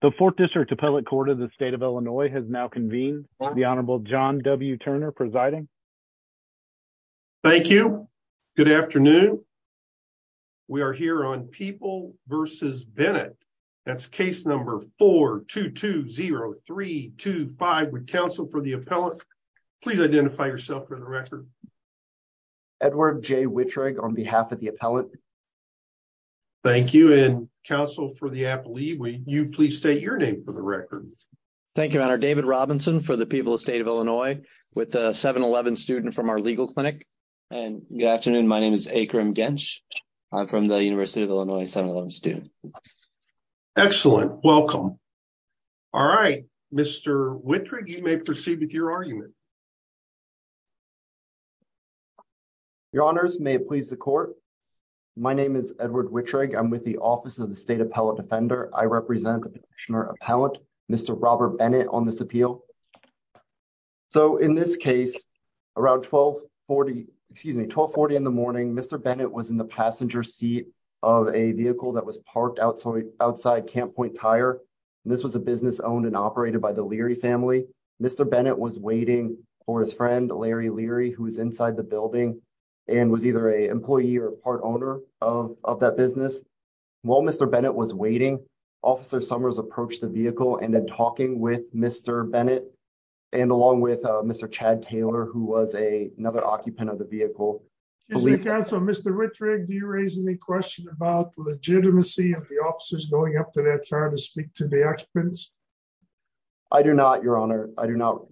The 4th District Appellate Court of the State of Illinois has now convened. The Honorable John W. Turner presiding. Thank you. Good afternoon. We are here on People v. Bennett. That's case number 4-2-2-0-3-2-5. Would counsel for the appellate please identify yourself for the record. Edward J. Wittreg on behalf of the appellate. Thank you. And counsel for the appellate, will you please state your name for the record. Thank you, Your Honor. David Robinson for the People of the State of Illinois with a 7-11 student from our legal clinic. And good afternoon. My name is Akram Gensh. I'm from the University of Illinois 7-11 students. Excellent. Welcome. All right. Mr. Wittreg, you may proceed with your argument. Edward Wittreg Your Honors, may it please the court. My name is Edward Wittreg. I'm with the Office of the State Appellate Defender. I represent the petitioner appellant, Mr. Robert Bennett, on this appeal. So in this case, around 1240, excuse me, 1240 in the morning, Mr. Bennett was in the passenger seat of a vehicle that was parked outside Camp Point Tire. And this was a business owned and operated by the Leary family. Mr. Bennett was waiting for his friend, Larry Leary, who was inside the building and was either an employee or part owner of that business. While Mr. Bennett was waiting, Officer Summers approached the vehicle and then talking with Mr. Bennett and along with Mr. Chad Taylor, who was another occupant of the vehicle. Mr. Wittreg, do you raise any question about the legitimacy of the officers going up to that car to speak to the occupants? I do not, Your Honor. I do not.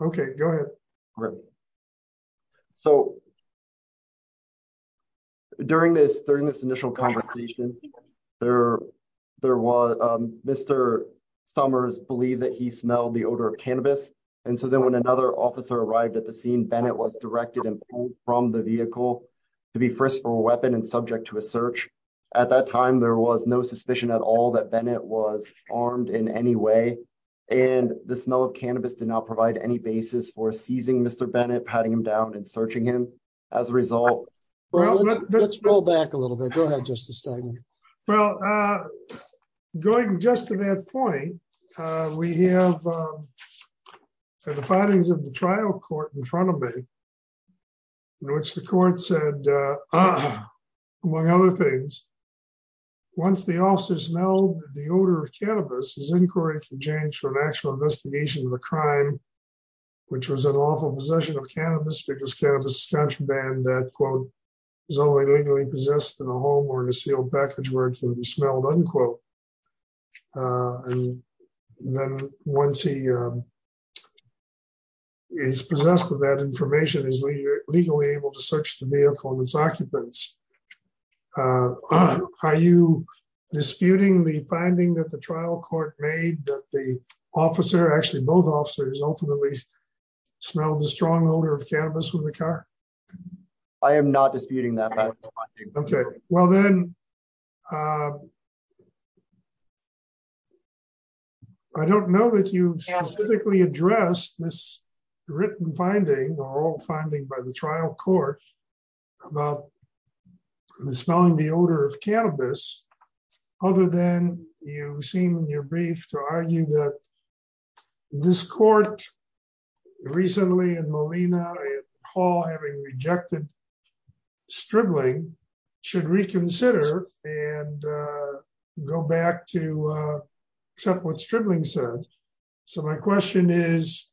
Okay, go ahead. So during this initial conversation, Mr. Summers believed that he smelled the odor of cannabis. And so then when another officer arrived at the scene, Bennett was directed and pulled from the vehicle to be frisked for a weapon and subject to a search. At that time, there was no suspicion at all that Bennett was armed in any way. And the smell of cannabis did not provide any basis for seizing Mr. Bennett, patting him down and searching him as a result. Let's roll back a little bit. Go ahead, Justice Stegman. Well, going just to that point, we have the findings of the trial court in front of me, in which the court said, among other things, once the officer smelled the odor of cannabis, his inquiry can change for an actual investigation of a crime, which was an awful possession of cannabis because cannabis is contraband that, quote, is only legally possessed in a home or in a sealed package where it can be smelled, unquote. And then once he is possessed of that information, is legally able to search the vehicle and its occupants. Are you disputing the finding that the trial court made that the officer, actually both officers, ultimately smelled the strong odor of cannabis from the car? I am not disputing that. Okay. Well, then, I don't know that you specifically addressed this written finding or old finding by the trial court about the smelling the odor of cannabis, other than you seem in your brief to argue that this court, recently in Molina and Hall, having rejected Stribling, should reconsider and go back to accept what Stribling said. So, my question is,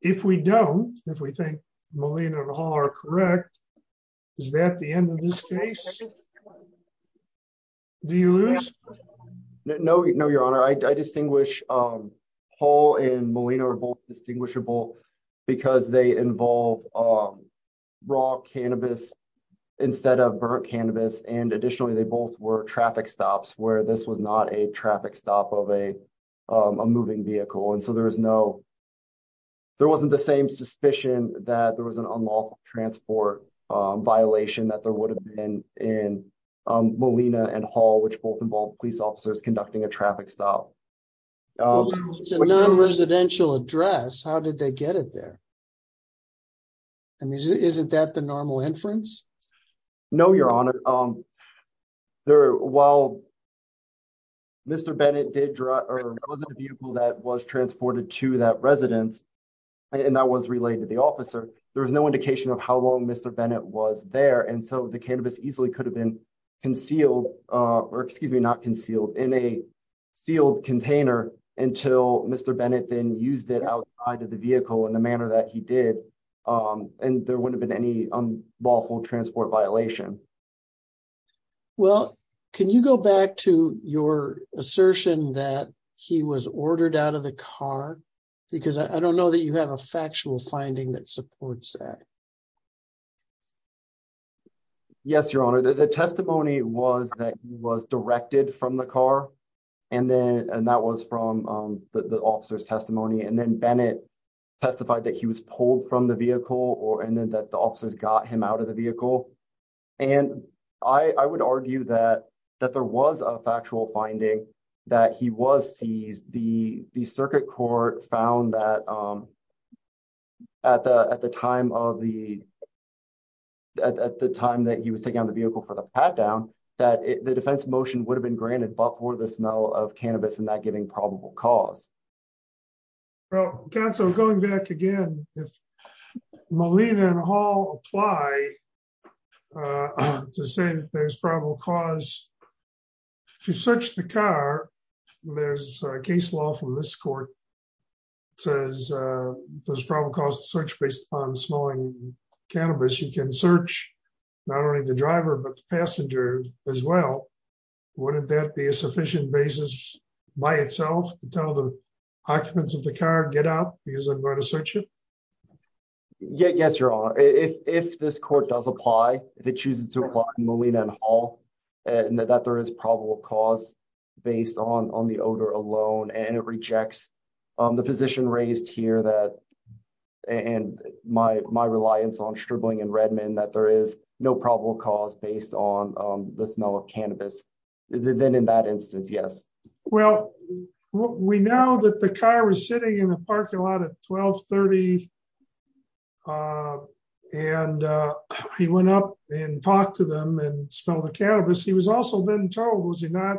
if we don't, if we think Molina and Hall are correct, is that the end of this case? Do you lose? No, your honor. I distinguish Hall and Molina are both distinguishable because they involve raw cannabis instead of burnt cannabis. And additionally, they both were traffic stops, where this was not a traffic stop of a moving vehicle. And so, there was no, there wasn't the same suspicion that there was an unlawful transport violation that there would have been in Molina and Hall, which both involve police officers conducting a traffic stop. It's a non-residential address. How did they get it there? I mean, isn't that the normal inference? No, your honor. While Mr. Bennett did drive, or it wasn't a vehicle that was transported to that residence, and that was related to the officer, there was no indication of how long Mr. Bennett was there. And so, the cannabis easily could have been concealed, or excuse me, not concealed, in a sealed container until Mr. Bennett then used it outside of the vehicle in the manner that he did, and there wouldn't have been any unlawful transport violation. Well, can you go back to your assertion that he was ordered out of the car? Because I don't know that you have a factual finding that supports that. Yes, your honor. The testimony was that he was directed from the car, and that was from the vehicle, and that the officers got him out of the vehicle. And I would argue that there was a factual finding that he was seized. The circuit court found that at the time that he was taking out of the vehicle for the pat-down, that the defense motion would have been granted but for the smell of cannabis and that giving probable cause. Well, counsel, going back again, if Malina and Hall apply to say that there's probable cause to search the car, there's a case law from this court that says there's probable cause to search based upon smelling cannabis. You can search not only the driver but the passenger as well. Wouldn't that be a sufficient basis by itself to tell the occupants of the car, get out because I'm going to search it? Yes, your honor. If this court does apply, if it chooses to apply Malina and Hall, and that there is probable cause based on the odor alone, and it rejects the position raised here and my reliance on Stribling and Redmond that there is no probable cause based on the smell of cannabis, then in that instance, yes. Well, we know that the car was sitting in the parking lot at 1230 and he went up and talked to them and smelled the cannabis. He was also then told, was he not,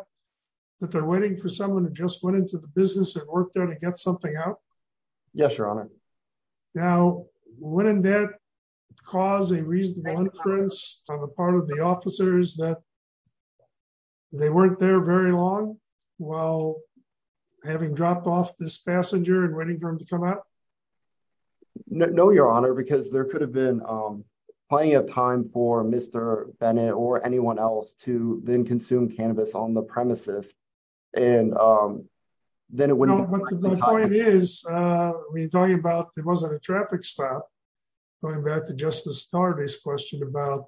that they're waiting for someone who just went into the business that worked there to get something out? Yes, your honor. Now, wouldn't that cause a reasonable inference on the part of the officers that they weren't there very long while having dropped off this passenger and waiting for him to come out? No, your honor, because there could have been plenty of time for Mr. Bennett or anyone else to then consume cannabis on the premises and then it wouldn't be. The point is, we're talking about, there wasn't a traffic stop. Going back to Justice Darby's question about,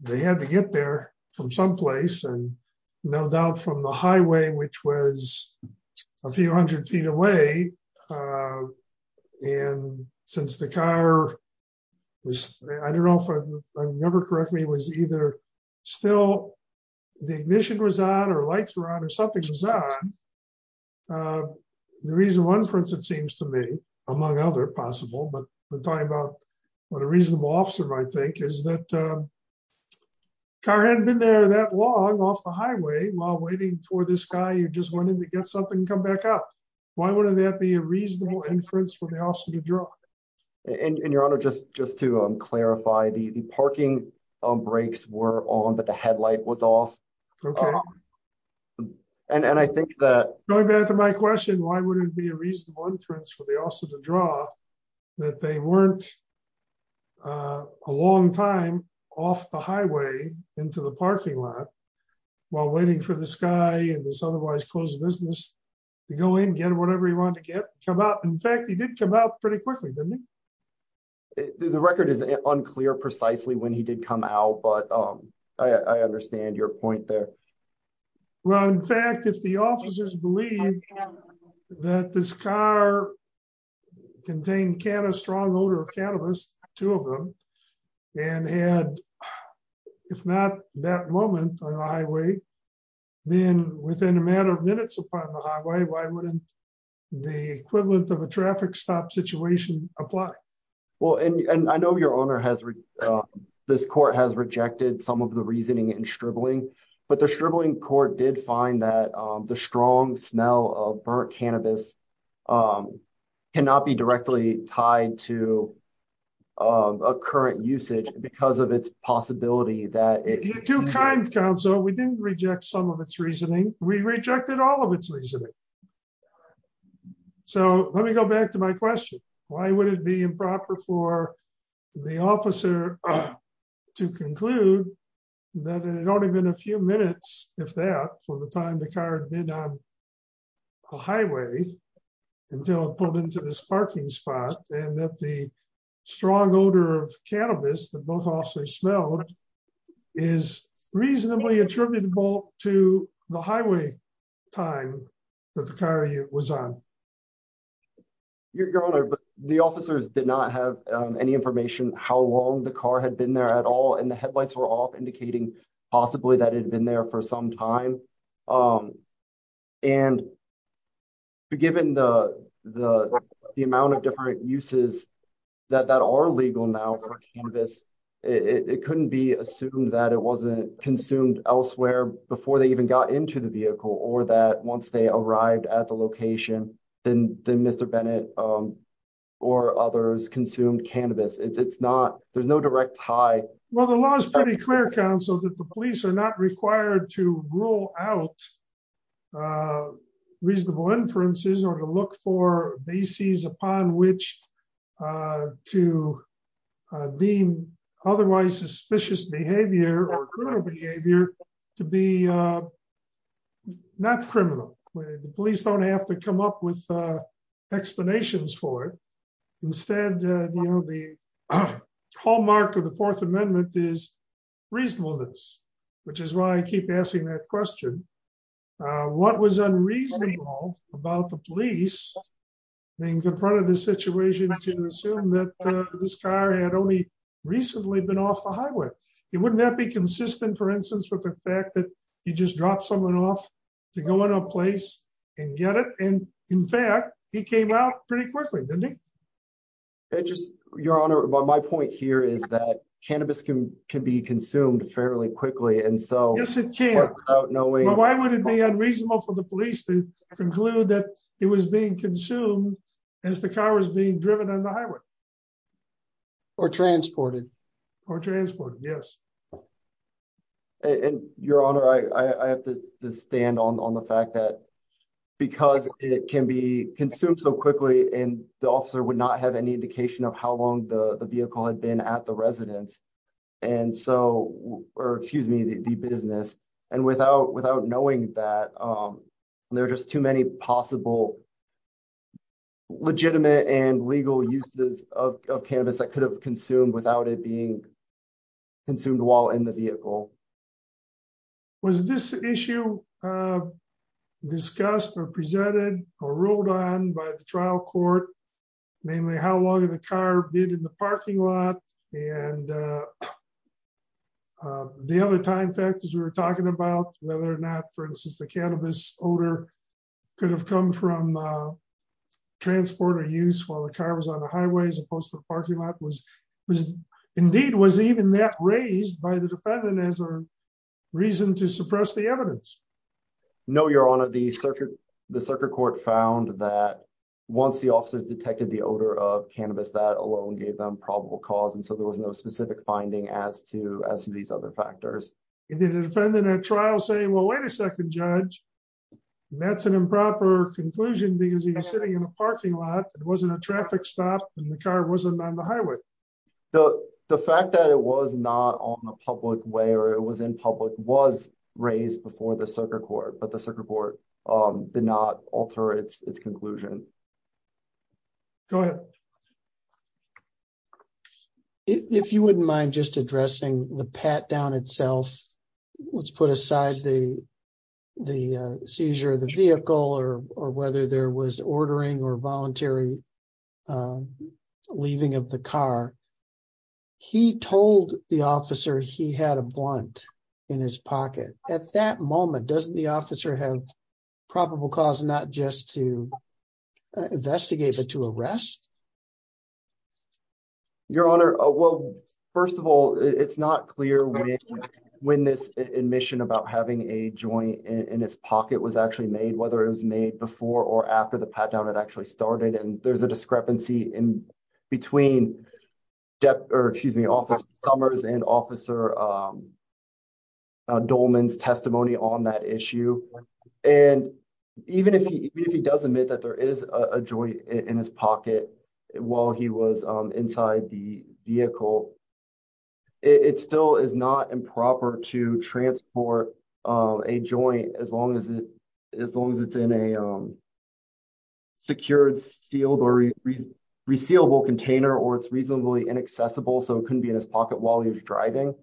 they had to get there from someplace and no doubt from the highway, which was a few hundred feet away. And since the car was, I don't know if I remember correctly, was either still, the ignition was on or lights were on or something was on. The reason one, for instance, seems to me among other possible, but we're talking about what a reasonable officer might think is that car hadn't been there that long off the highway while waiting for this guy who just wanted to get something and come back up. Why wouldn't that be a reasonable inference for the officer to draw? And your honor, just to clarify, the parking brakes were on, but the headlight was off. And I think that... Going back to my question, why would it be a reasonable inference for the officer to draw that they weren't a long time off the highway into the parking lot while waiting for this guy and this otherwise closed business to go in, get whatever he wanted to get, come out. In fact, he did come out pretty quickly, didn't he? The record is unclear precisely when he did come out, but I understand your point there. Well, in fact, if the officers believe that this car contained can of strong odor or cannabis, two of them, and had, if not that moment on the highway, then within a matter of minutes upon the highway, why wouldn't the equivalent of a traffic stop situation apply? Well, and I know your owner has... This court has rejected some of the reasoning and shriveling, but the shriveling court did find that the strong smell of burnt cannabis cannot be directly tied to a current usage because of its possibility that it... You're too kind, counsel. We didn't reject some of its reasoning. We rejected all of its reasoning. So let me go back to my question. Why would it be improper for the officer to conclude that it had only been a few minutes, if that, from the time the car had been on the highway until it pulled into this parking spot and that the strong odor of cannabis that officers smelled is reasonably attributable to the highway time that the car was on? Your Honor, the officers did not have any information how long the car had been there at all. And the headlights were off indicating possibly that it had been there for some time. And given the amount of different uses that are legal now for cannabis, it couldn't be assumed that it wasn't consumed elsewhere before they even got into the vehicle or that once they arrived at the location, then Mr. Bennett or others consumed cannabis. There's no direct tie. Well, the law is pretty clear, counsel, that the police are not required to rule out reasonable inferences or to look for bases upon which to deem otherwise suspicious behavior or criminal behavior to be not criminal. The police don't have to come up with explanations for it. Instead, the hallmark of the Fourth Amendment is reasonableness, which is why I keep asking that question. What was unreasonable about the police being confronted the situation to assume that this car had only recently been off the highway? Wouldn't that be consistent, for instance, with the fact that you just dropped someone off to go in a place and get it? And in fact, he came out pretty quickly, didn't he? Your Honor, my point here is that cannabis can be consumed fairly quickly. Yes, it can. Why would it be unreasonable for the police to conclude that it was being consumed as the car was being driven on the highway? Or transported. Or transported, yes. And, Your Honor, I have to stand on the fact that because it can be consumed so quickly and the officer would not have any indication of how long the vehicle had been at the residence. And so, or excuse me, the business. And without knowing that, there are just too many possible legitimate and legal uses of cannabis that could have consumed without it being in the vehicle. Was this issue discussed or presented or ruled on by the trial court, namely how long the car did in the parking lot? And the other time factors we were talking about, whether or not, for instance, the cannabis odor could have come from transport or use while the car was on the highway as opposed to the parking lot was indeed was even that raised by the defendant as a reason to suppress the evidence. No, Your Honor, the circuit court found that once the officers detected the odor of cannabis, that alone gave them probable cause. And so there was no specific finding as to these other factors. Did the defendant at trial say, well, wait a second, Judge, that's an improper conclusion because he was sitting in a parking lot. It wasn't a traffic stop and the car wasn't on the highway. The fact that it was not on the public way or it was in public was raised before the circuit court, but the circuit court did not alter its conclusion. Go ahead. If you wouldn't mind just addressing the pat down itself, let's put aside the seizure of the vehicle or whether there was ordering or voluntary leaving of the car. He told the officer he had a blunt in his pocket. At that moment, doesn't the officer have probable cause not just to investigate but to arrest? Your Honor, well, first of all, it's not clear when this admission about having a joint in his pocket was actually made, whether it was made before or after the pat down had actually started. And there's a discrepancy in between depth or excuse me, office summers and officer Dolman's testimony on that issue. And even if he does admit that there is a joint in his pocket, while he was inside the vehicle, it still is not improper to transport a joint as long as it's in a secured sealed or resealable container or it's reasonably inaccessible. So it couldn't be in his pocket while he was driving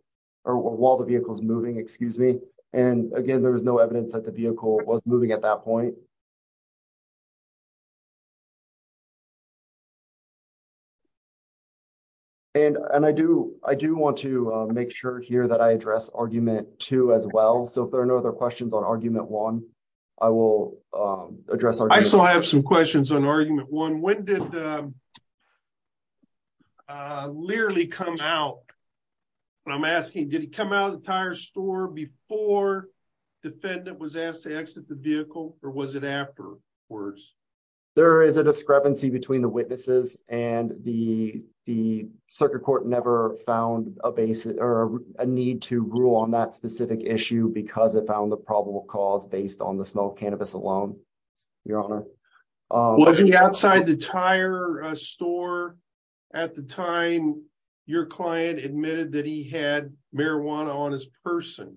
or while the vehicle is moving, excuse me. And again, there was no evidence that the vehicle was moving at that point. And I do want to make sure here that I address argument two as well. So if there are no other questions on argument one, I will address. I still have some questions on argument one. When did Learley come out? And I'm asking, did he come out of the tire store before defendant was asked to exit the vehicle or was it afterwards? There is a discrepancy between the witnesses and the circuit court never found a basis or a need to rule on that specific issue because it found the probable cause based on the smoke cannabis alone. Your honor. Was he outside the tire store at the time your client admitted that he had marijuana on his person?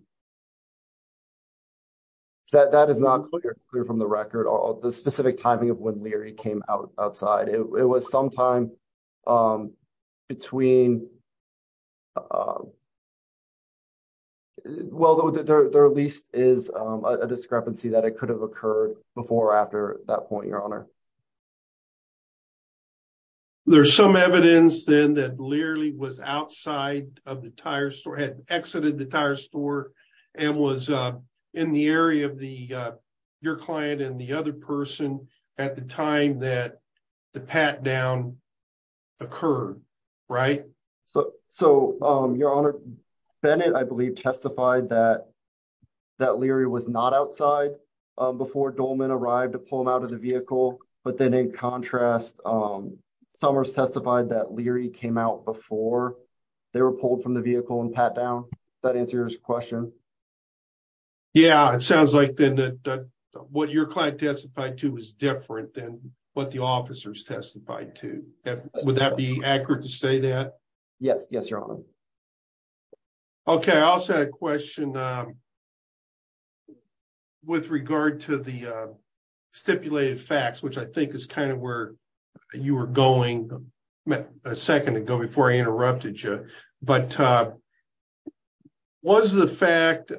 That is not clear from the record or the specific timing of when Learley came out outside. It was sometime between, well, there at least is a discrepancy that it could have occurred before or after that point, your honor. There's some evidence then that Learley was outside of the store and was in the area of your client and the other person at the time that the pat down occurred, right? So your honor, Bennett, I believe testified that Learley was not outside before Dolman arrived to pull him out of the vehicle. But then in contrast, Summers testified that Learley came out before they were pulled from the vehicle and pat down. That answers your question. Yeah, it sounds like then that what your client testified to was different than what the officers testified to. Would that be accurate to say that? Yes. Yes, your honor. Okay. I also had a question with regard to the stipulated facts, which I think is kind of where you were going a second ago before I interrupted you. But was the fact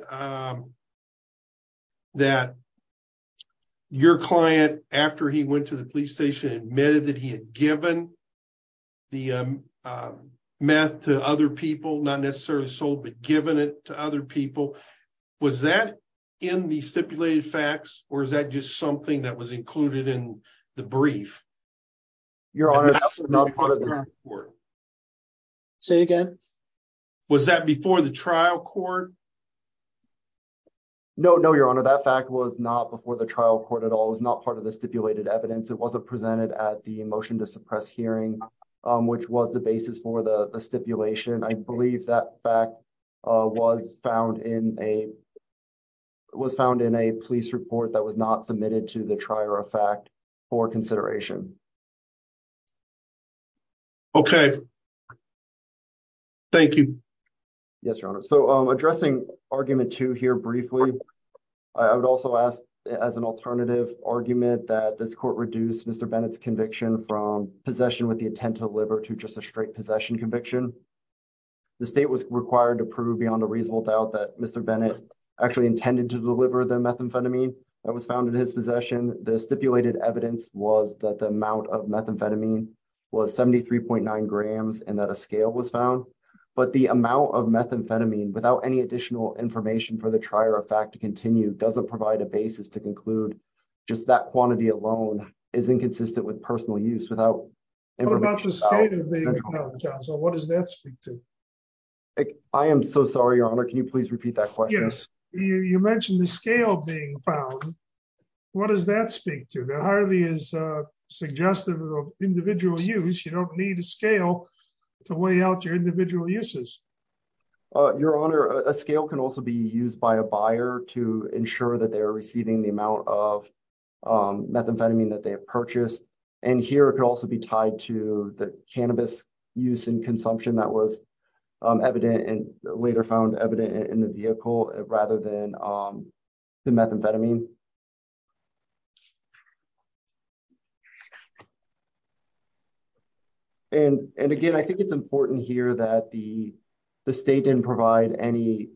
that your client, after he went to the police station and admitted that he had given the meth to other people, not necessarily sold, but given it to other people, was that in the stipulated facts or is that just something that was included in the brief? Your honor, say again. Was that before the trial court? No, no, your honor. That fact was not before the trial court at all. It was not part of the stipulated evidence. It wasn't presented at the motion to suppress hearing, which was the basis for the stipulation. I believe that fact was found in a police report that was not submitted to the trier of fact for consideration. Okay. Thank you. Yes, your honor. So addressing argument two here briefly, I would also ask as an alternative argument that this court reduced Mr. Bennett's conviction from possession with the intent to deliver to just a straight possession conviction. The state was required to prove beyond a reasonable doubt that Mr. Bennett actually intended to deliver the methamphetamine that was found in his possession. The stipulated evidence was that the amount of methamphetamine was 73.9 grams and that a scale was found, but the amount of methamphetamine without any additional information for the trier of fact to continue doesn't provide a basis to conclude just that quantity alone is inconsistent with personal use without information. So what does that speak to? I am so sorry, your honor. Can you mention the scale being found? What does that speak to? That hardly is a suggestive of individual use. You don't need a scale to weigh out your individual uses. Your honor, a scale can also be used by a buyer to ensure that they are receiving the amount of methamphetamine that they have purchased. And here it could also be tied to the cannabis use that was later found evident in the vehicle rather than the methamphetamine. And again, I think it's important here that the state didn't provide any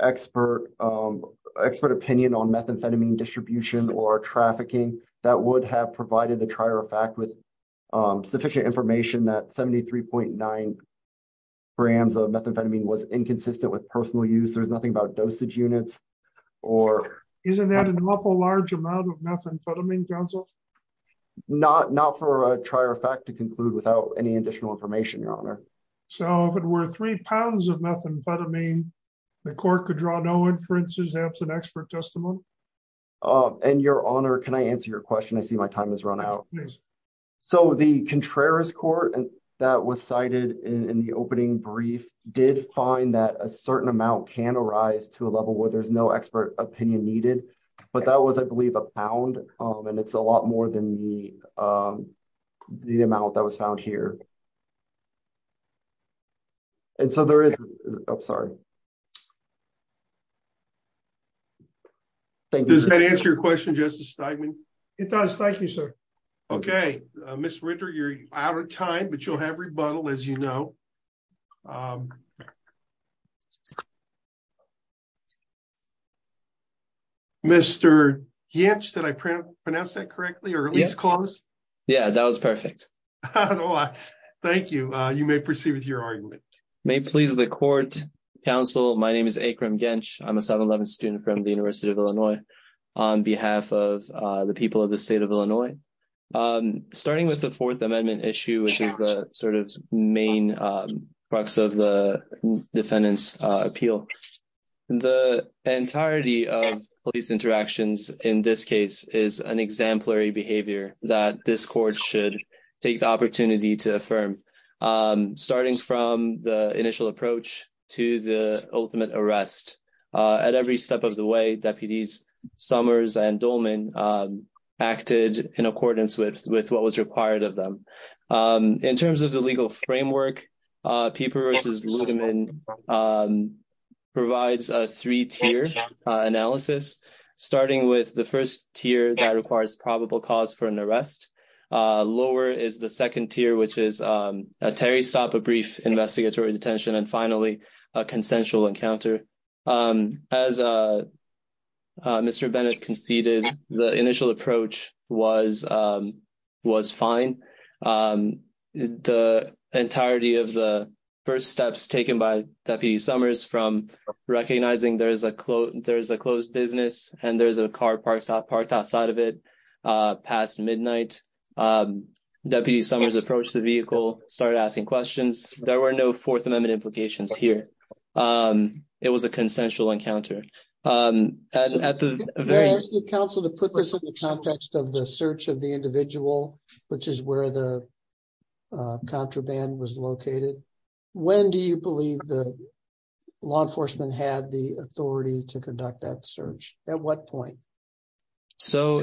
expert opinion on methamphetamine distribution or trafficking that would have provided the grams of methamphetamine was inconsistent with personal use. There's nothing about dosage units or isn't that an awful large amount of methamphetamine, counsel? Not for a trier of fact to conclude without any additional information, your honor. So if it were three pounds of methamphetamine, the court could draw no inferences, absent expert testimony. And your honor, can I answer your question? I see my time has run out. So the Contreras court that was cited in the opening brief did find that a certain amount can arise to a level where there's no expert opinion needed, but that was, I believe a pound. And it's a lot more than the, the amount that was found here. And so there is, I'm sorry. Does that answer your question, Justice Steinman? It does. Thank you, sir. Okay. Ms. Ritter, you're out of time, but you'll have rebuttal as you know. Mr. Ginch, did I pronounce that correctly or at least close? Yeah, that was perfect. Thank you. You may proceed with your argument. May it please the court, counsel. My name is Akram Ginch. I'm a 711 student from the people of the state of Illinois. Starting with the fourth amendment issue, which is the sort of main crux of the defendant's appeal. The entirety of police interactions in this case is an exemplary behavior that this court should take the opportunity to affirm. Starting from the initial acted in accordance with what was required of them. In terms of the legal framework, Peeper v. Ludeman provides a three-tier analysis, starting with the first tier that requires probable cause for an arrest. Lower is the second tier, which is a Terry Sapa brief investigatory detention. And finally, a consensual encounter. As Mr. Bennett conceded, the initial approach was fine. The entirety of the first steps taken by Deputy Summers from recognizing there's a closed business and there's a car parked outside of it past midnight. Deputy Summers approached the vehicle, started asking questions. There were no fourth amendment implications here. It was a consensual encounter. They're asking counsel to put this in the context of the search of the individual, which is where the contraband was located. When do you believe the law enforcement had the authority to conduct that search? At what point? So,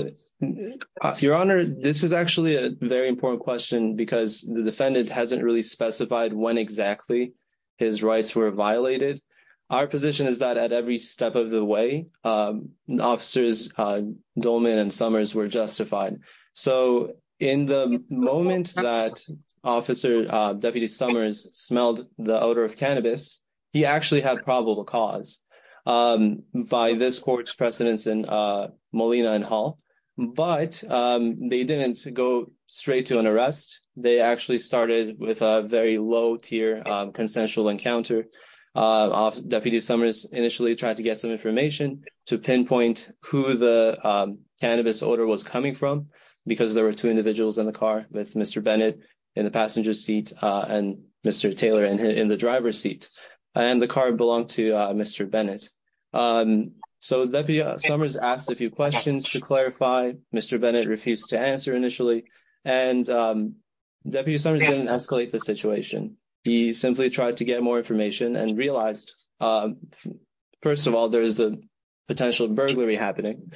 Your Honor, this is actually a very important question because the defendant hasn't really specified when exactly his rights were violated. Our position is that at every step of the way, officers Dolman and Summers were justified. So, in the moment that Deputy Summers smelled the Molina and Hall, but they didn't go straight to an arrest. They actually started with a very low tier consensual encounter. Deputy Summers initially tried to get some information to pinpoint who the cannabis odor was coming from because there were two individuals in the car with Mr. Bennett in the passenger seat and Mr. Taylor in the driver's seat and the car belonged to Mr. Bennett. So, Deputy Summers asked a few questions to clarify. Mr. Bennett refused to answer initially and Deputy Summers didn't escalate the situation. He simply tried to get more information and realized, first of all, there is the potential burglary happening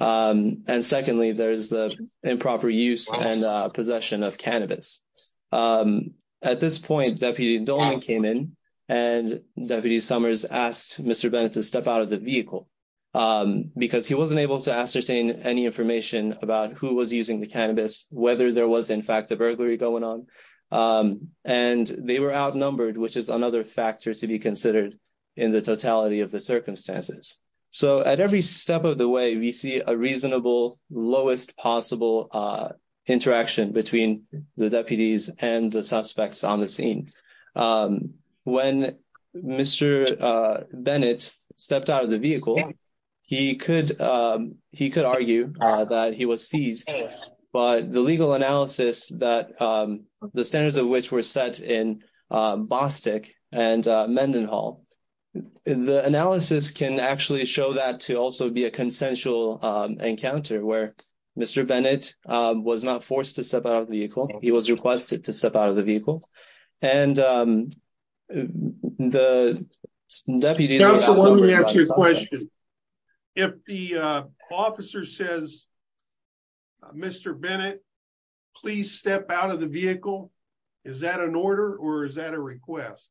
and secondly, there's the improper use and possession of cannabis. At this point, Deputy Dolman came in and Deputy Summers asked Mr. Bennett to step out of the vehicle because he wasn't able to ascertain any information about who was using the cannabis, whether there was in fact a burglary going on and they were outnumbered, which is another factor to be considered in the totality of the circumstances. So, at every step of the way, we see a reasonable lowest possible interaction between the deputies and the suspects on the scene. When Mr. Bennett stepped out of the vehicle, he could argue that he was seized, but the legal analysis that the standards of which were set in Bostick and Mendenhall, the analysis can actually show that to also be a consensual encounter where Mr. Bennett was not forced to step out of the vehicle. He was requested to step out of the vehicle and the deputy... Counsel, let me ask you a question. If the officer says, Mr. Bennett, please step out of the vehicle, is that an order or is that a request?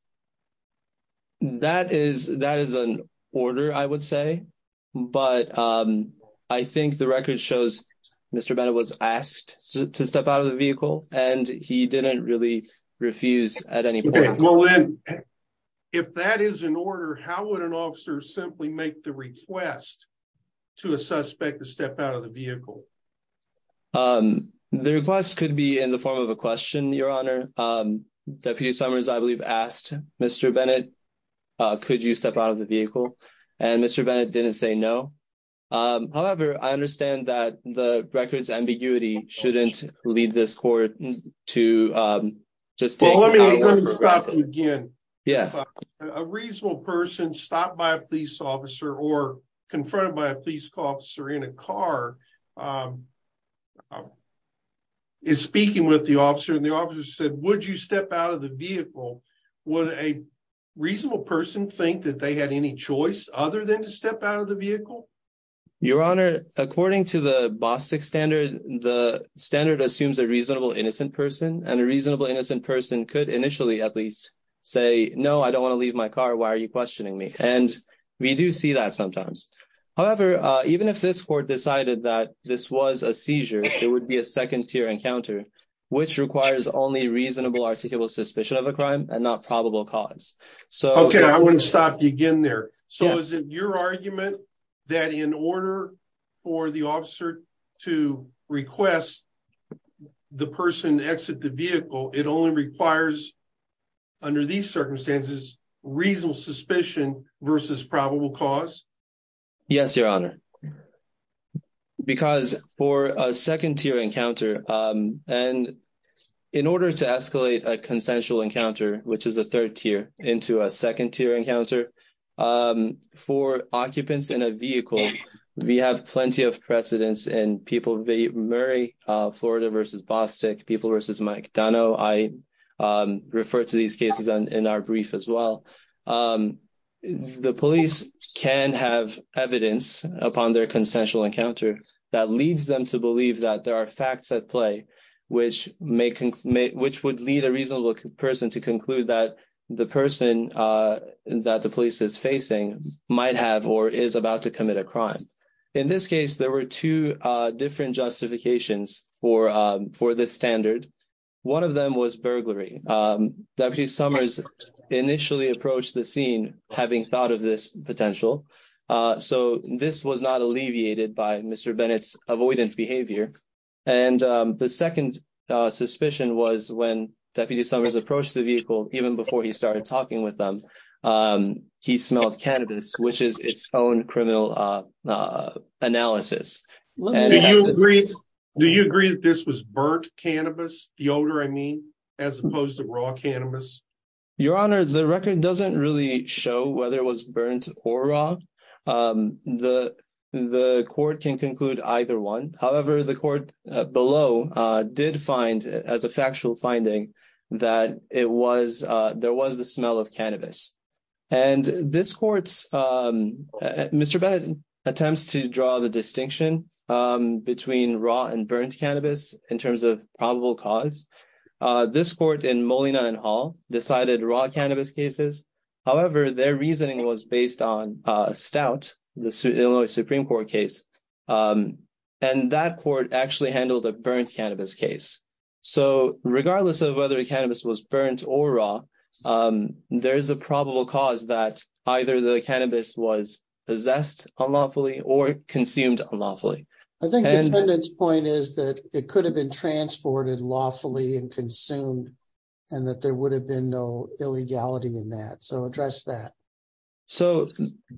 That is an order, I would say, but I think the record shows Mr. Bennett was asked to step out of the vehicle and he didn't really refuse at any point. Okay, well then, if that is an order, how would an officer simply make the request to a suspect to step out of the vehicle? The request could be in the form of a question, Your Honor. Deputy Summers, I believe, asked Mr. Bennett, could you step out of the vehicle? And Mr. Bennett didn't say no. However, I understand that the record's ambiguity shouldn't lead this court to just... Well, let me stop you again. A reasonable person stopped by a police officer or confronted by a police officer in a car is speaking with the officer and the officer said, would you step out of the vehicle? Would a reasonable person think that they had any choice other than to step out of the vehicle? Your Honor, according to the BOSTIC standard, the standard assumes a reasonable innocent person and a reasonable innocent person could initially at least say, no, I don't want to leave my car, why are you questioning me? And we do see that sometimes. However, even if this court decided that this was a seizure, it would be a second tier encounter, which requires only reasonable articulable suspicion of a crime and not probable cause. Okay, I want to stop you again there. So is it your argument that in order for the officer to request the person to exit the vehicle, it only requires, under these circumstances, reasonable suspicion versus probable cause? Yes, Your Honor. Because for a second tier encounter, and in order to escalate a consensual encounter, which is the third tier, into a second tier encounter, for occupants in a vehicle, we have plenty of precedence in people v. Murray, Florida v. BOSTIC, people v. McDonough. I refer to these cases in our brief as well. The police can have evidence upon their consensual encounter that leads them to believe that there are facts at play, which would lead a reasonable person to conclude that the person that the police is facing might have, or is about to commit a crime. In this case, there were two different justifications for this standard. One of them was burglary. Deputy Summers initially approached the scene having thought of this Mr. Bennett's avoidant behavior. The second suspicion was when Deputy Summers approached the vehicle, even before he started talking with them, he smelled cannabis, which is its own criminal analysis. Do you agree that this was burnt cannabis, the odor I mean, as opposed to raw either one? However, the court below did find, as a factual finding, that there was the smell of cannabis. Mr. Bennett attempts to draw the distinction between raw and burnt cannabis in terms of probable cause. This court in Molina and Hall decided raw cannabis cases. However, their reasoning was based on Stout, the Illinois Supreme Court case. That court actually handled a burnt cannabis case. Regardless of whether the cannabis was burnt or raw, there is a probable cause that either the cannabis was possessed unlawfully or consumed unlawfully. I think the defendant's point is that it could have been transported lawfully and consumed, and that there So,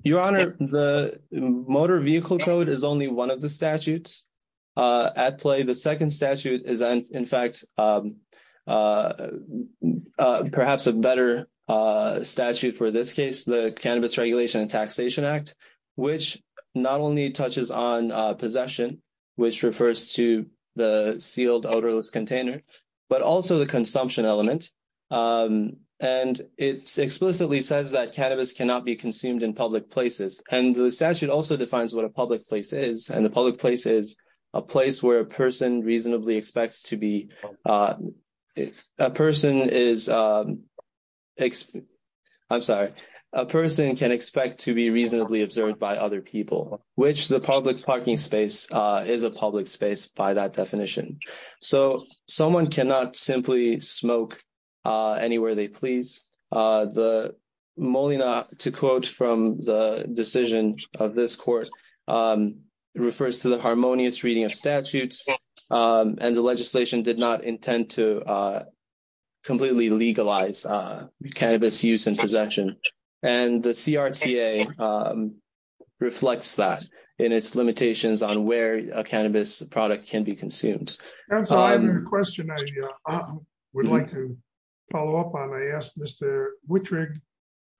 Your Honor, the motor vehicle code is only one of the statutes at play. The second statute is, in fact, perhaps a better statute for this case, the Cannabis Regulation and Taxation Act, which not only touches on possession, which refers to the sealed odorless container, but also the consumption element. And it explicitly says that cannabis cannot be consumed in public places. And the statute also defines what a public place is, and the public place is a place where a person reasonably expects to be, a person is, I'm sorry, a person can expect to be reasonably observed by other people, which the public parking space is a public space by that definition. So, someone cannot simply smoke anywhere they please. The Molina, to quote from the decision of this court, refers to the harmonious reading of statutes, and the legislation did not intend to completely legalize cannabis use and possession. And the CRTA reflects that in its product can be consumed. That's a question I would like to follow up on. I asked Mr. Wittrig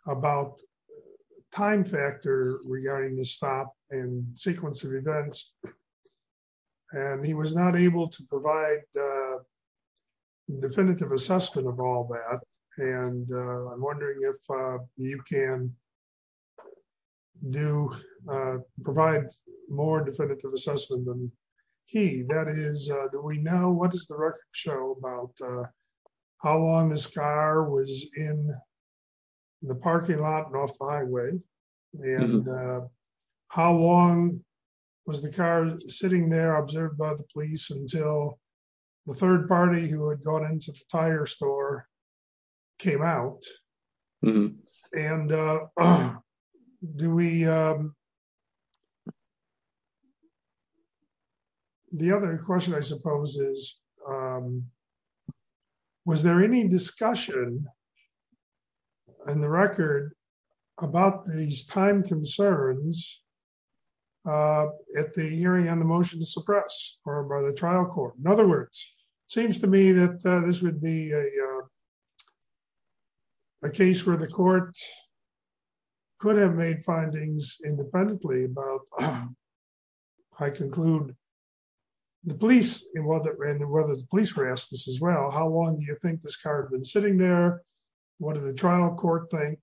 about time factor regarding the stop and sequence of events, and he was not able to provide definitive assessment of all that. And I'm wondering if you can do, provide more definitive assessment than he, that is, do we know what does the record show about how long this car was in the parking lot and off the highway? And how long was the car sitting there observed by the police until the third party who had gone into the tire store came out? And do we, the other question I suppose is, was there any discussion in the record about these time concerns at the hearing on the motion to suppress or by the trial court? In other words, it seems to me that this would be a case where the court could have made findings independently, but I conclude the police, and whether the police were asked this as well, how long do you think this car had been sitting there? What did the trial court think?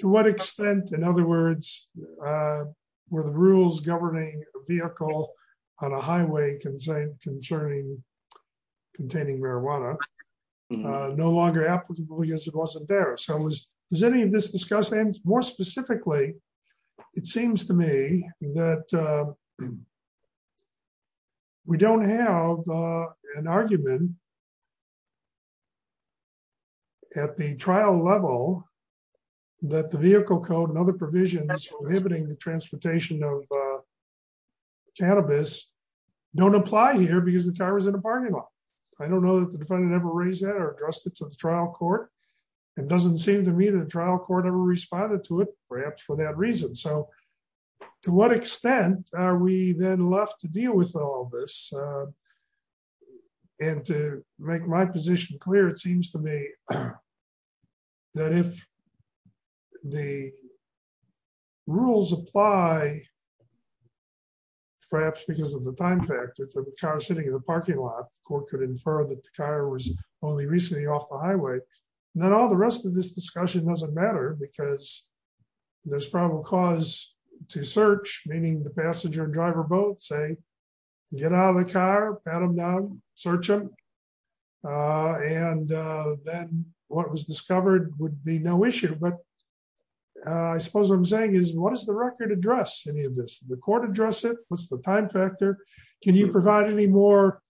To what extent, in other words, were the rules governing a vehicle on a highway concerning containing marijuana no longer applicable because it wasn't there? So was, has any of this discussed? And more specifically, it seems to me that we don't have an argument at the trial level that the vehicle code and other provisions prohibiting the transportation of cannabis don't apply here because the car was in a parking lot. I don't know that the defendant ever raised that or addressed it to the trial court. It doesn't seem to me that the trial court ever responded to it, perhaps for that reason. So to what extent are we then left to all this? And to make my position clear, it seems to me that if the rules apply, perhaps because of the time factor for the car sitting in the parking lot, the court could infer that the car was only recently off the highway, then all the rest of this discussion doesn't because there's probable cause to search, meaning the passenger and driver both say, get out of the car, pat him down, search him. And then what was discovered would be no issue. But I suppose what I'm saying is, what does the record address any of this? The court address it? What's the time factor? Can you provide any more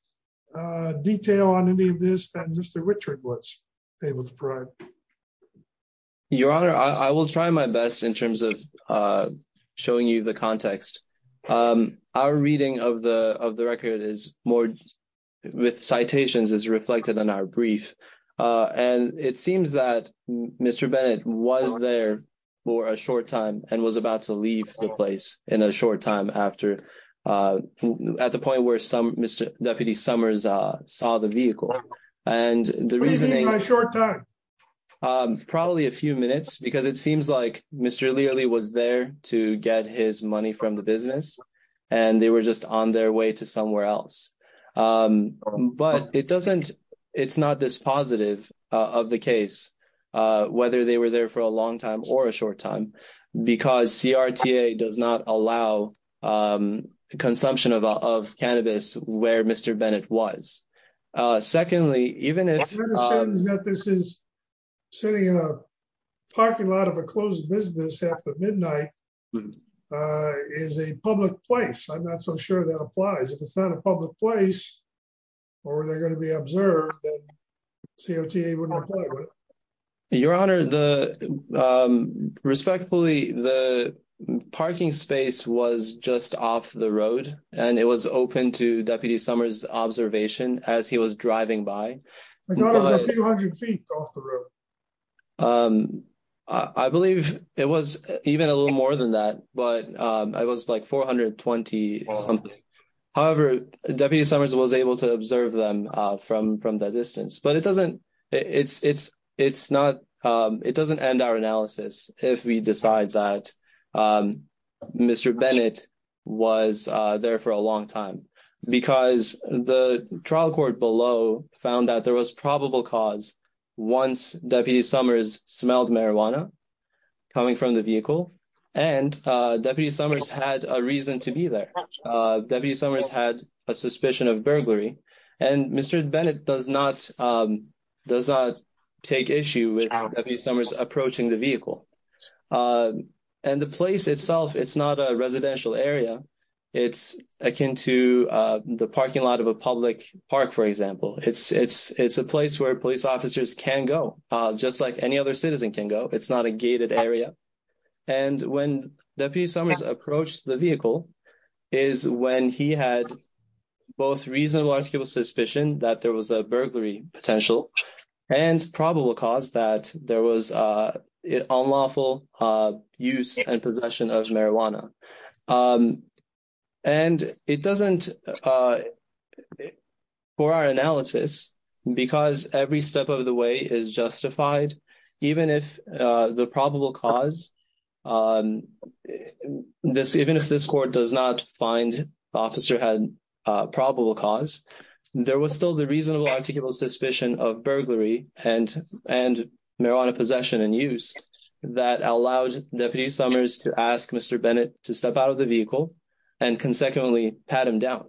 detail on any of this than Mr. Richard was able to provide? Your honor, I will try my best in terms of showing you the context. Our reading of the of the record is more with citations is reflected in our brief. And it seems that Mr. Bennett was there for a short time and was about to leave the place in a short time after uh at the point where some Mr. Deputy Summers uh saw the vehicle and the reasoning my short time um probably a few minutes because it seems like Mr. Learley was there to get his money from the business and they were just on their way to somewhere else um but it doesn't it's not this positive of the case uh whether they were there for a long time or a short time because CRTA does not allow um consumption of of cannabis where Mr. Bennett was uh secondly even if this is sitting in a parking lot of a closed business after midnight uh is a public place I'm not so sure that applies if it's not a public place or they're going to be observed then CRTA wouldn't play with it your honor the um respectfully the parking space was just off the road and it was open to Deputy Summers observation as he was driving by I thought it was a few hundred feet off the road um I believe it was even a little more than that but um it was like 420 something however Deputy Summers was able to observe them uh from from that distance but it doesn't it's it's it's not um it doesn't end our analysis if we decide that um Mr. Bennett was uh there for a long time because the trial court below found that there was probable cause once Deputy Summers smelled marijuana coming from the vehicle and uh Deputy Summers had a reason to be there uh Deputy Summers had a suspicion of burglary and Mr. Bennett does not um does not take issue with Deputy Summers approaching the vehicle uh and the place itself it's not a residential area it's akin to uh the parking lot of a public park for example it's it's it's a place where police officers can go uh just like any other citizen can go it's not a gated area and when Deputy Summers approached the vehicle is when he had both reasonable articulable suspicion that there was a burglary potential and probable cause that there was uh unlawful uh use and possession of marijuana um and it doesn't uh for our analysis because every step of the way is justified even if uh the probable cause um this even if this court does not find the officer had a probable cause there was still the reasonable articulable suspicion of burglary and and marijuana possession and use that allowed Deputy Summers to ask Mr. Bennett to step out of the vehicle and consequently pat him down.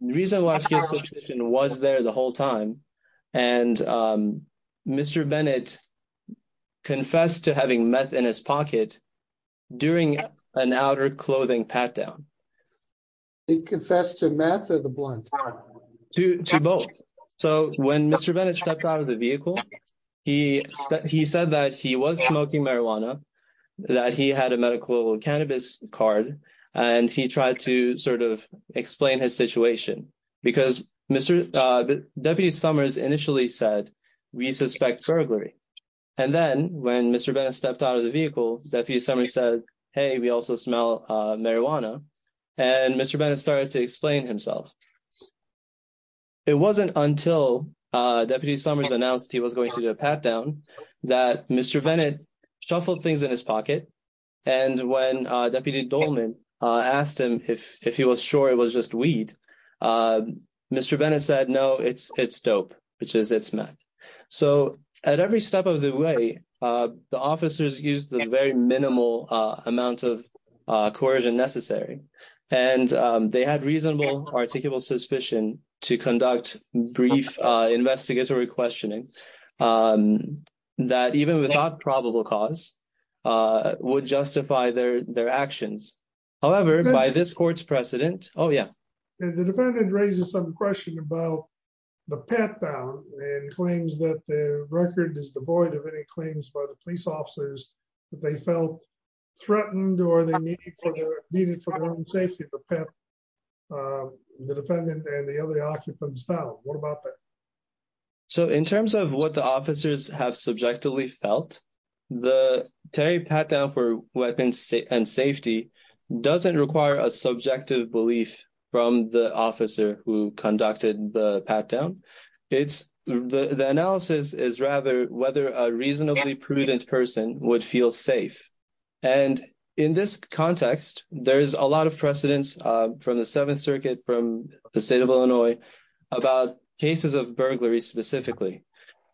Reasonable articulable suspicion was there the whole time and um Mr. Bennett confessed to having meth in his pocket during an outer clothing pat down. He confessed to meth or the blunt? To both. So when Mr. Bennett stepped out of the vehicle he he said that he was smoking marijuana that he had a medical cannabis card and he tried to sort of explain his situation because Mr. uh Deputy Summers initially said we suspect burglary and then when Mr. Bennett stepped out of the vehicle Deputy Summers said hey we also smell uh marijuana and Mr. Bennett started to explain himself. It wasn't until uh Deputy Summers announced he was going to do a pat down that Mr. Bennett shuffled things in his pocket and when uh Deputy Dolman uh asked him if if he was sure it was just weed uh Mr. Bennett said no it's it's dope which is it's meth. So at every step of the way uh the officers used the very minimal uh amount of uh coercion necessary and um they had reasonable articulable suspicion to conduct brief uh investigatory questioning um that even without probable cause uh would justify their their actions. However by this court's precedent oh yeah the defendant raises some question about the pat down and claims that the record is devoid of any claims by the police officers that they felt threatened or they needed for their own safety to pat the defendant and the other occupants down. What about that? So in terms of what the officers have subjectively felt the Terry pat down for weapons and safety doesn't require a subjective belief from the officer who conducted the pat down. It's the analysis is rather whether a reasonably prudent person would feel safe and in this context there a lot of precedents uh from the seventh circuit from the state of Illinois about cases of burglary specifically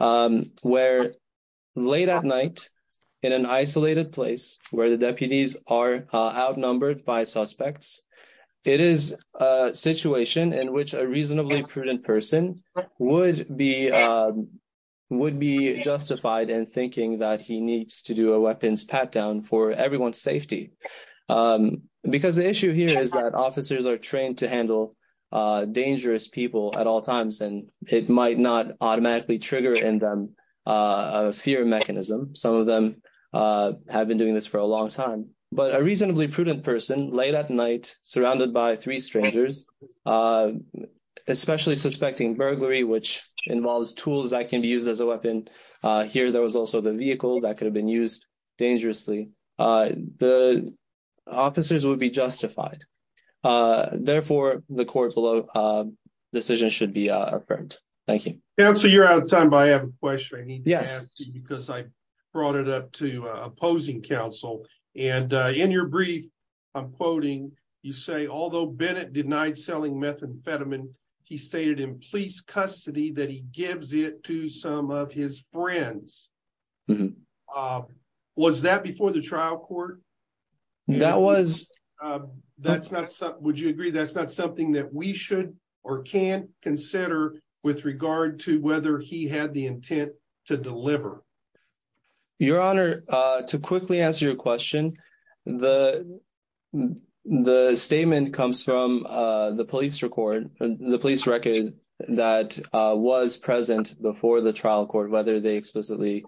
um where late at night in an isolated place where the deputies are outnumbered by suspects it is a situation in which a reasonably prudent person would be um would be justified in because the issue here is that officers are trained to handle uh dangerous people at all times and it might not automatically trigger in them a fear mechanism. Some of them uh have been doing this for a long time but a reasonably prudent person late at night surrounded by three strangers especially suspecting burglary which involves tools that can be used as a weapon uh here there also the vehicle that could have been used dangerously uh the officers would be justified uh therefore the court below decisions should be uh affirmed. Thank you. Counselor you're out of time but I have a question I need to ask you because I brought it up to opposing counsel and in your brief I'm quoting you say although Bennett denied selling methamphetamine he stated in police custody that he gives it to some of his friends. Was that before the trial court? That was. That's not something would you agree that's not something that we should or can't consider with regard to whether he had the intent to deliver? Your honor to quickly answer your question the the statement comes from uh the police record the police record that was present before the trial court whether they explicitly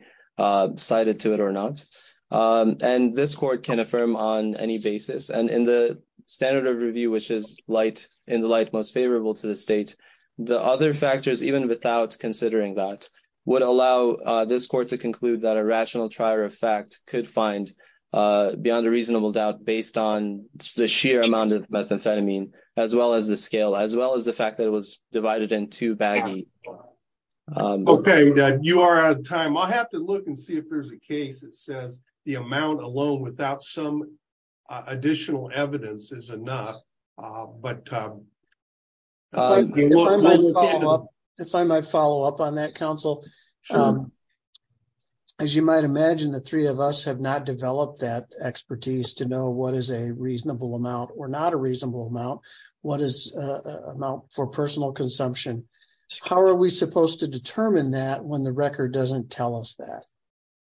cited to it or not and this court can affirm on any basis and in the standard of review which is light in the light most favorable to the state the other factors even without considering that would allow uh this court to conclude that a rational trier effect could find uh beyond a reasonable doubt based on the sheer amount of methamphetamine as well as the scale as well as the fact that it was divided in two baggy. Okay you are out of time I'll have to look and see if there's a case that says the amount alone without some additional evidence is enough but um if I might follow up on that counsel um as you might imagine the three of us have not developed that expertise to know what is a reasonable amount or not a reasonable amount what is uh amount for personal consumption how are we supposed to determine that when the record doesn't tell us that?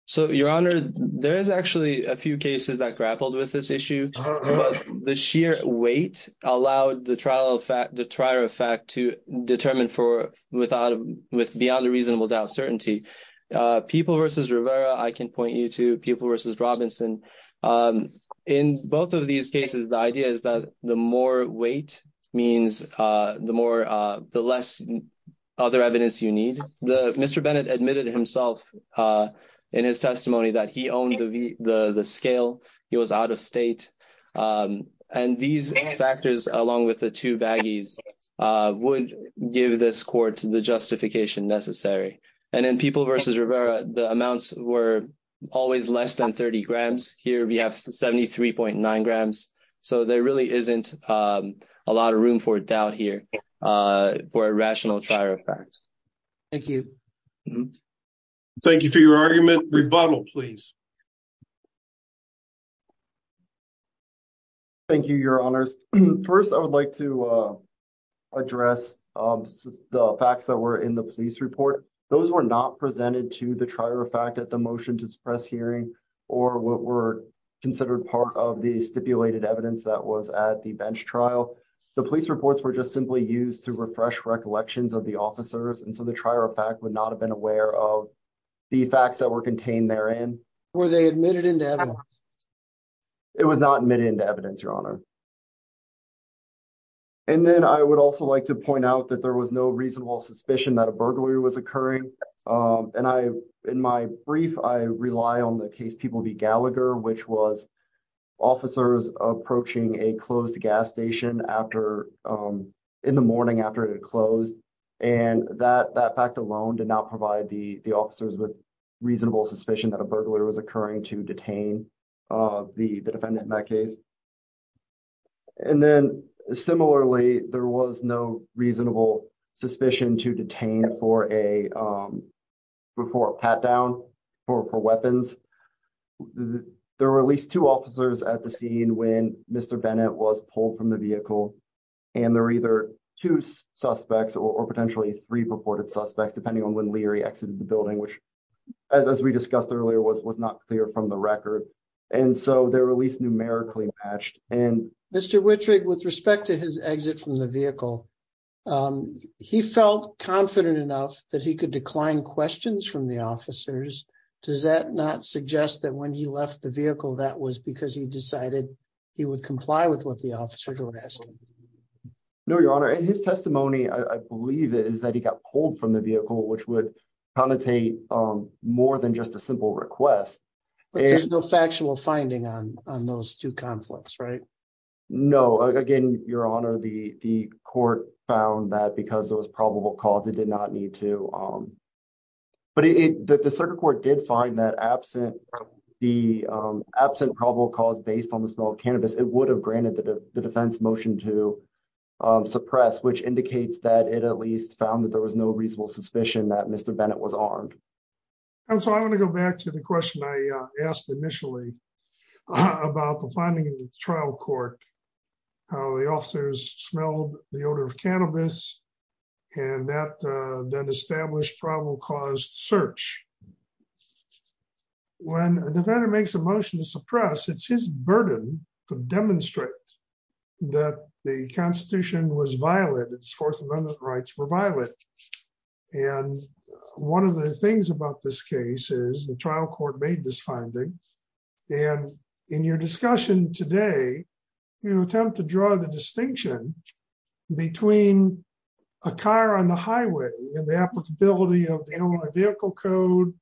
So your honor there is actually a few cases that grappled with this issue but the sheer weight allowed the trial effect the trier effect to determine for without with beyond a reasonable doubt certainty uh people versus Rivera I can point you to people versus Robinson um in both of these cases the idea is that the more weight means uh the more uh the less other evidence you need the Mr. Bennett admitted himself uh in his testimony that he owned the the the scale he was out of state um and these factors along with the two baggies uh would give this court the justification necessary and in people versus Rivera the amounts were always less than 30 grams here we have 73.9 grams so there really isn't um a lot of room for doubt here uh for a rational fact thank you thank you for your argument rebuttal please thank you your honors first I would like to uh address um the facts that were in the police report those were not presented to the trier effect at the motion to suppress hearing or what were considered part of the stipulated evidence that was at the bench trial the police reports were just simply used to refresh recollections of the officers and so the trier effect would not have been aware of the facts that were contained therein were they admitted into evidence it was not admitted into evidence your honor and then I would also like to point out that there was no reasonable suspicion that a burglary was occurring um and I in my brief I rely on the Gallagher which was officers approaching a closed gas station after um in the morning after it closed and that that fact alone did not provide the the officers with reasonable suspicion that a burglar was occurring to detain uh the the defendant in that case and then similarly there was no reasonable suspicion to detain for a um before pat down for for weapons there were at least two officers at the scene when mr bennett was pulled from the vehicle and they're either two suspects or potentially three reported suspects depending on when leary exited the building which as we discussed earlier was was not clear from the record and so they're released numerically matched and mr wittrigg with respect to his exit from the vehicle um he felt confident enough that he could decline questions from the officers does that not suggest that when he left the vehicle that was because he decided he would comply with what the officers were asking no your honor and his testimony I believe is that he got pulled from the vehicle which would connotate um more than just a simple request but there's no factual finding on on those two conflicts right no again your honor the the court found that because there was probable cause it did not need to um but it the circuit court did find that absent the um absent probable cause based on the smell of cannabis it would have granted the defense motion to um suppress which indicates that it at least found that there was no reasonable suspicion that mr bennett was armed and so I want to go back to the question I asked initially about the finding in the trial court how the officers smelled the odor of cannabis and that uh then established probable cause search when a defender makes a motion to suppress it's his burden to demonstrate that the constitution was violated its fourth amendment rights were violent and one of the things about this case is the trial court made this finding and in your discussion today you attempt to draw the distinction between a car on the highway and the applicability of the only vehicle code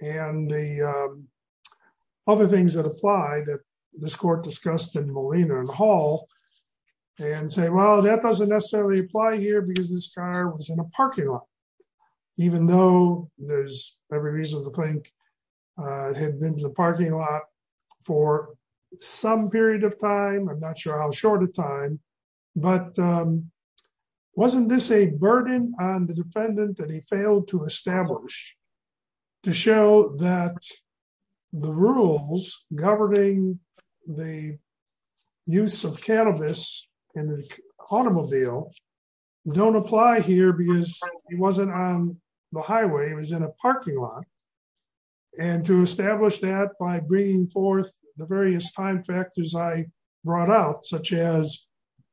and the um other things that apply that this court discussed in Molina and Hall and say well that doesn't necessarily apply here because this car was in a parking lot even though there's every reason to think uh it had been in the parking lot for some period of time I'm not sure how short of time but um wasn't this a burden on the defendant that he failed to establish to show that the rules governing the use of cannabis in the automobile don't apply here because he wasn't on the highway he was in a parking lot and to establish that by bringing forth the various time factors I brought out such as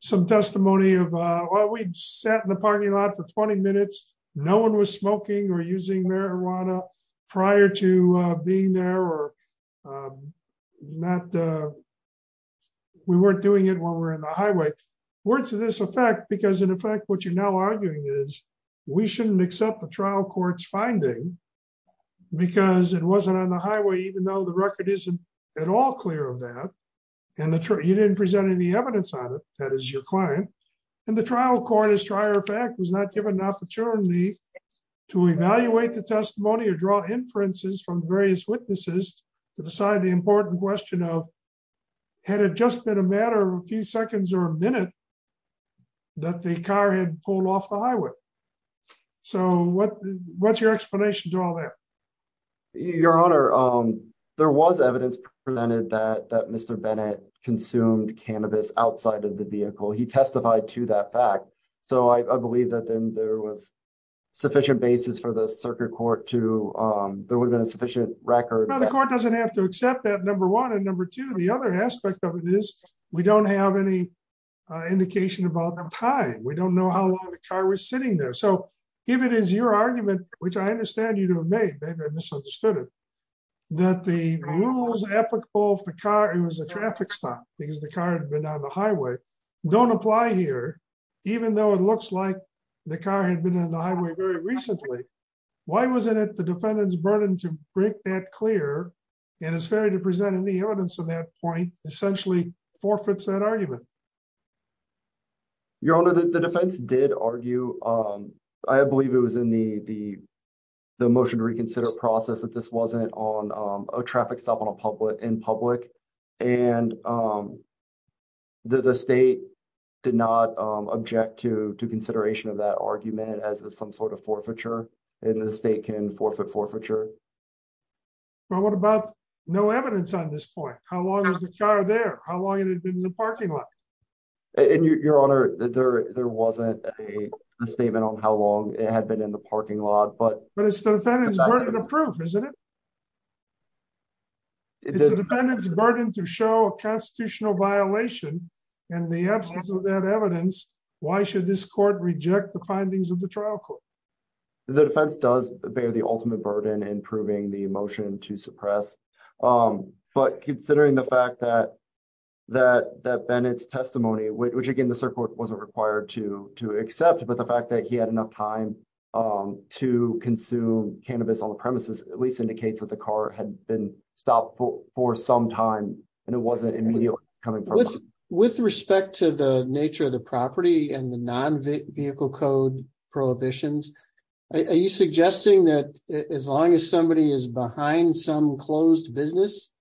some testimony of uh well we sat in the parking lot for 20 minutes no one was smoking or using marijuana prior to uh being there or um not uh we weren't doing it while we're in the highway words to this effect because in effect what you're now arguing is we shouldn't accept the trial court's finding because it wasn't on the highway even though the record isn't at all clear of that and the you didn't present any evidence on it that is your client and the trial court as a matter of fact was not given an opportunity to evaluate the testimony or draw inferences from various witnesses to decide the important question of had it just been a matter of a few seconds or a minute that the car had pulled off the highway so what what's your explanation to all that your honor um there was evidence presented that that bennett consumed cannabis outside of the vehicle he testified to that fact so i believe that then there was sufficient basis for the circuit court to um there would have been a sufficient record the court doesn't have to accept that number one and number two the other aspect of it is we don't have any indication about the time we don't know how long the car was sitting there so if it is your argument which i understand you to have made maybe i misunderstood it that the rules applicable if the car it was a traffic stop because the car had been on the highway don't apply here even though it looks like the car had been in the highway very recently why wasn't it the defendant's burden to break that clear and it's fair to present any evidence of that point essentially forfeits that argument your honor the defense did argue um i believe it was in the the the motion to reconsider process that this wasn't on um a traffic stop on a public in public and um the state did not um object to to consideration of that argument as some sort of forfeiture and the state can forfeit forfeiture well what about no evidence on this point how long is the car there how long it had been in the parking lot and your honor that there there wasn't a statement on how long it had been in the parking lot but but it's the defendant's burden of proof isn't it it's a defendant's burden to show a constitutional violation in the absence of that evidence why should this court reject the findings of the trial court the defense does bear the ultimate burden in proving the motion to suppress um but considering the fact that that that bennett's testimony which again the circuit wasn't required to to accept but the fact that he had enough time um to consume cannabis on the premises at least indicates that the car had been stopped for some time and it wasn't immediately coming with respect to the nature of the property and the non-vehicle code prohibitions are you suggesting that as long as somebody is behind some closed business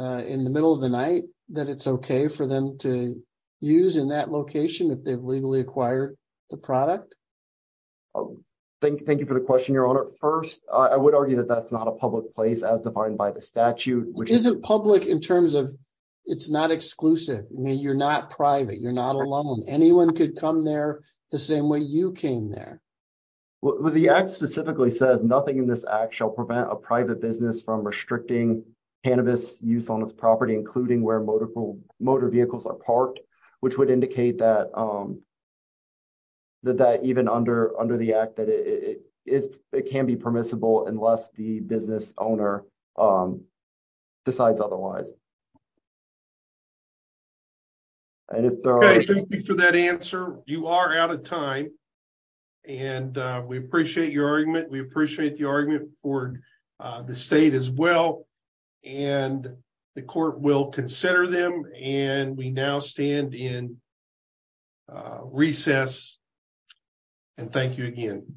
uh in the middle of the night that it's okay for them to use in that location if they've legally acquired the product oh thank you thank you for the question your honor first i would argue that that's not a public place as defined by the statute which isn't public in terms of it's not exclusive i mean you're not private you're not alone anyone could come there the same way you came there well the act specifically says nothing in this act shall prevent a private business from restricting cannabis use on its property including where motor vehicles are parked which would indicate that um that that even under under the act that it is it can be permissible unless the business owner um decides otherwise and if there are thank you for that answer you are out of time and we appreciate your argument we appreciate the argument for the state as well and the court will consider them and we now stand in recess and thank you again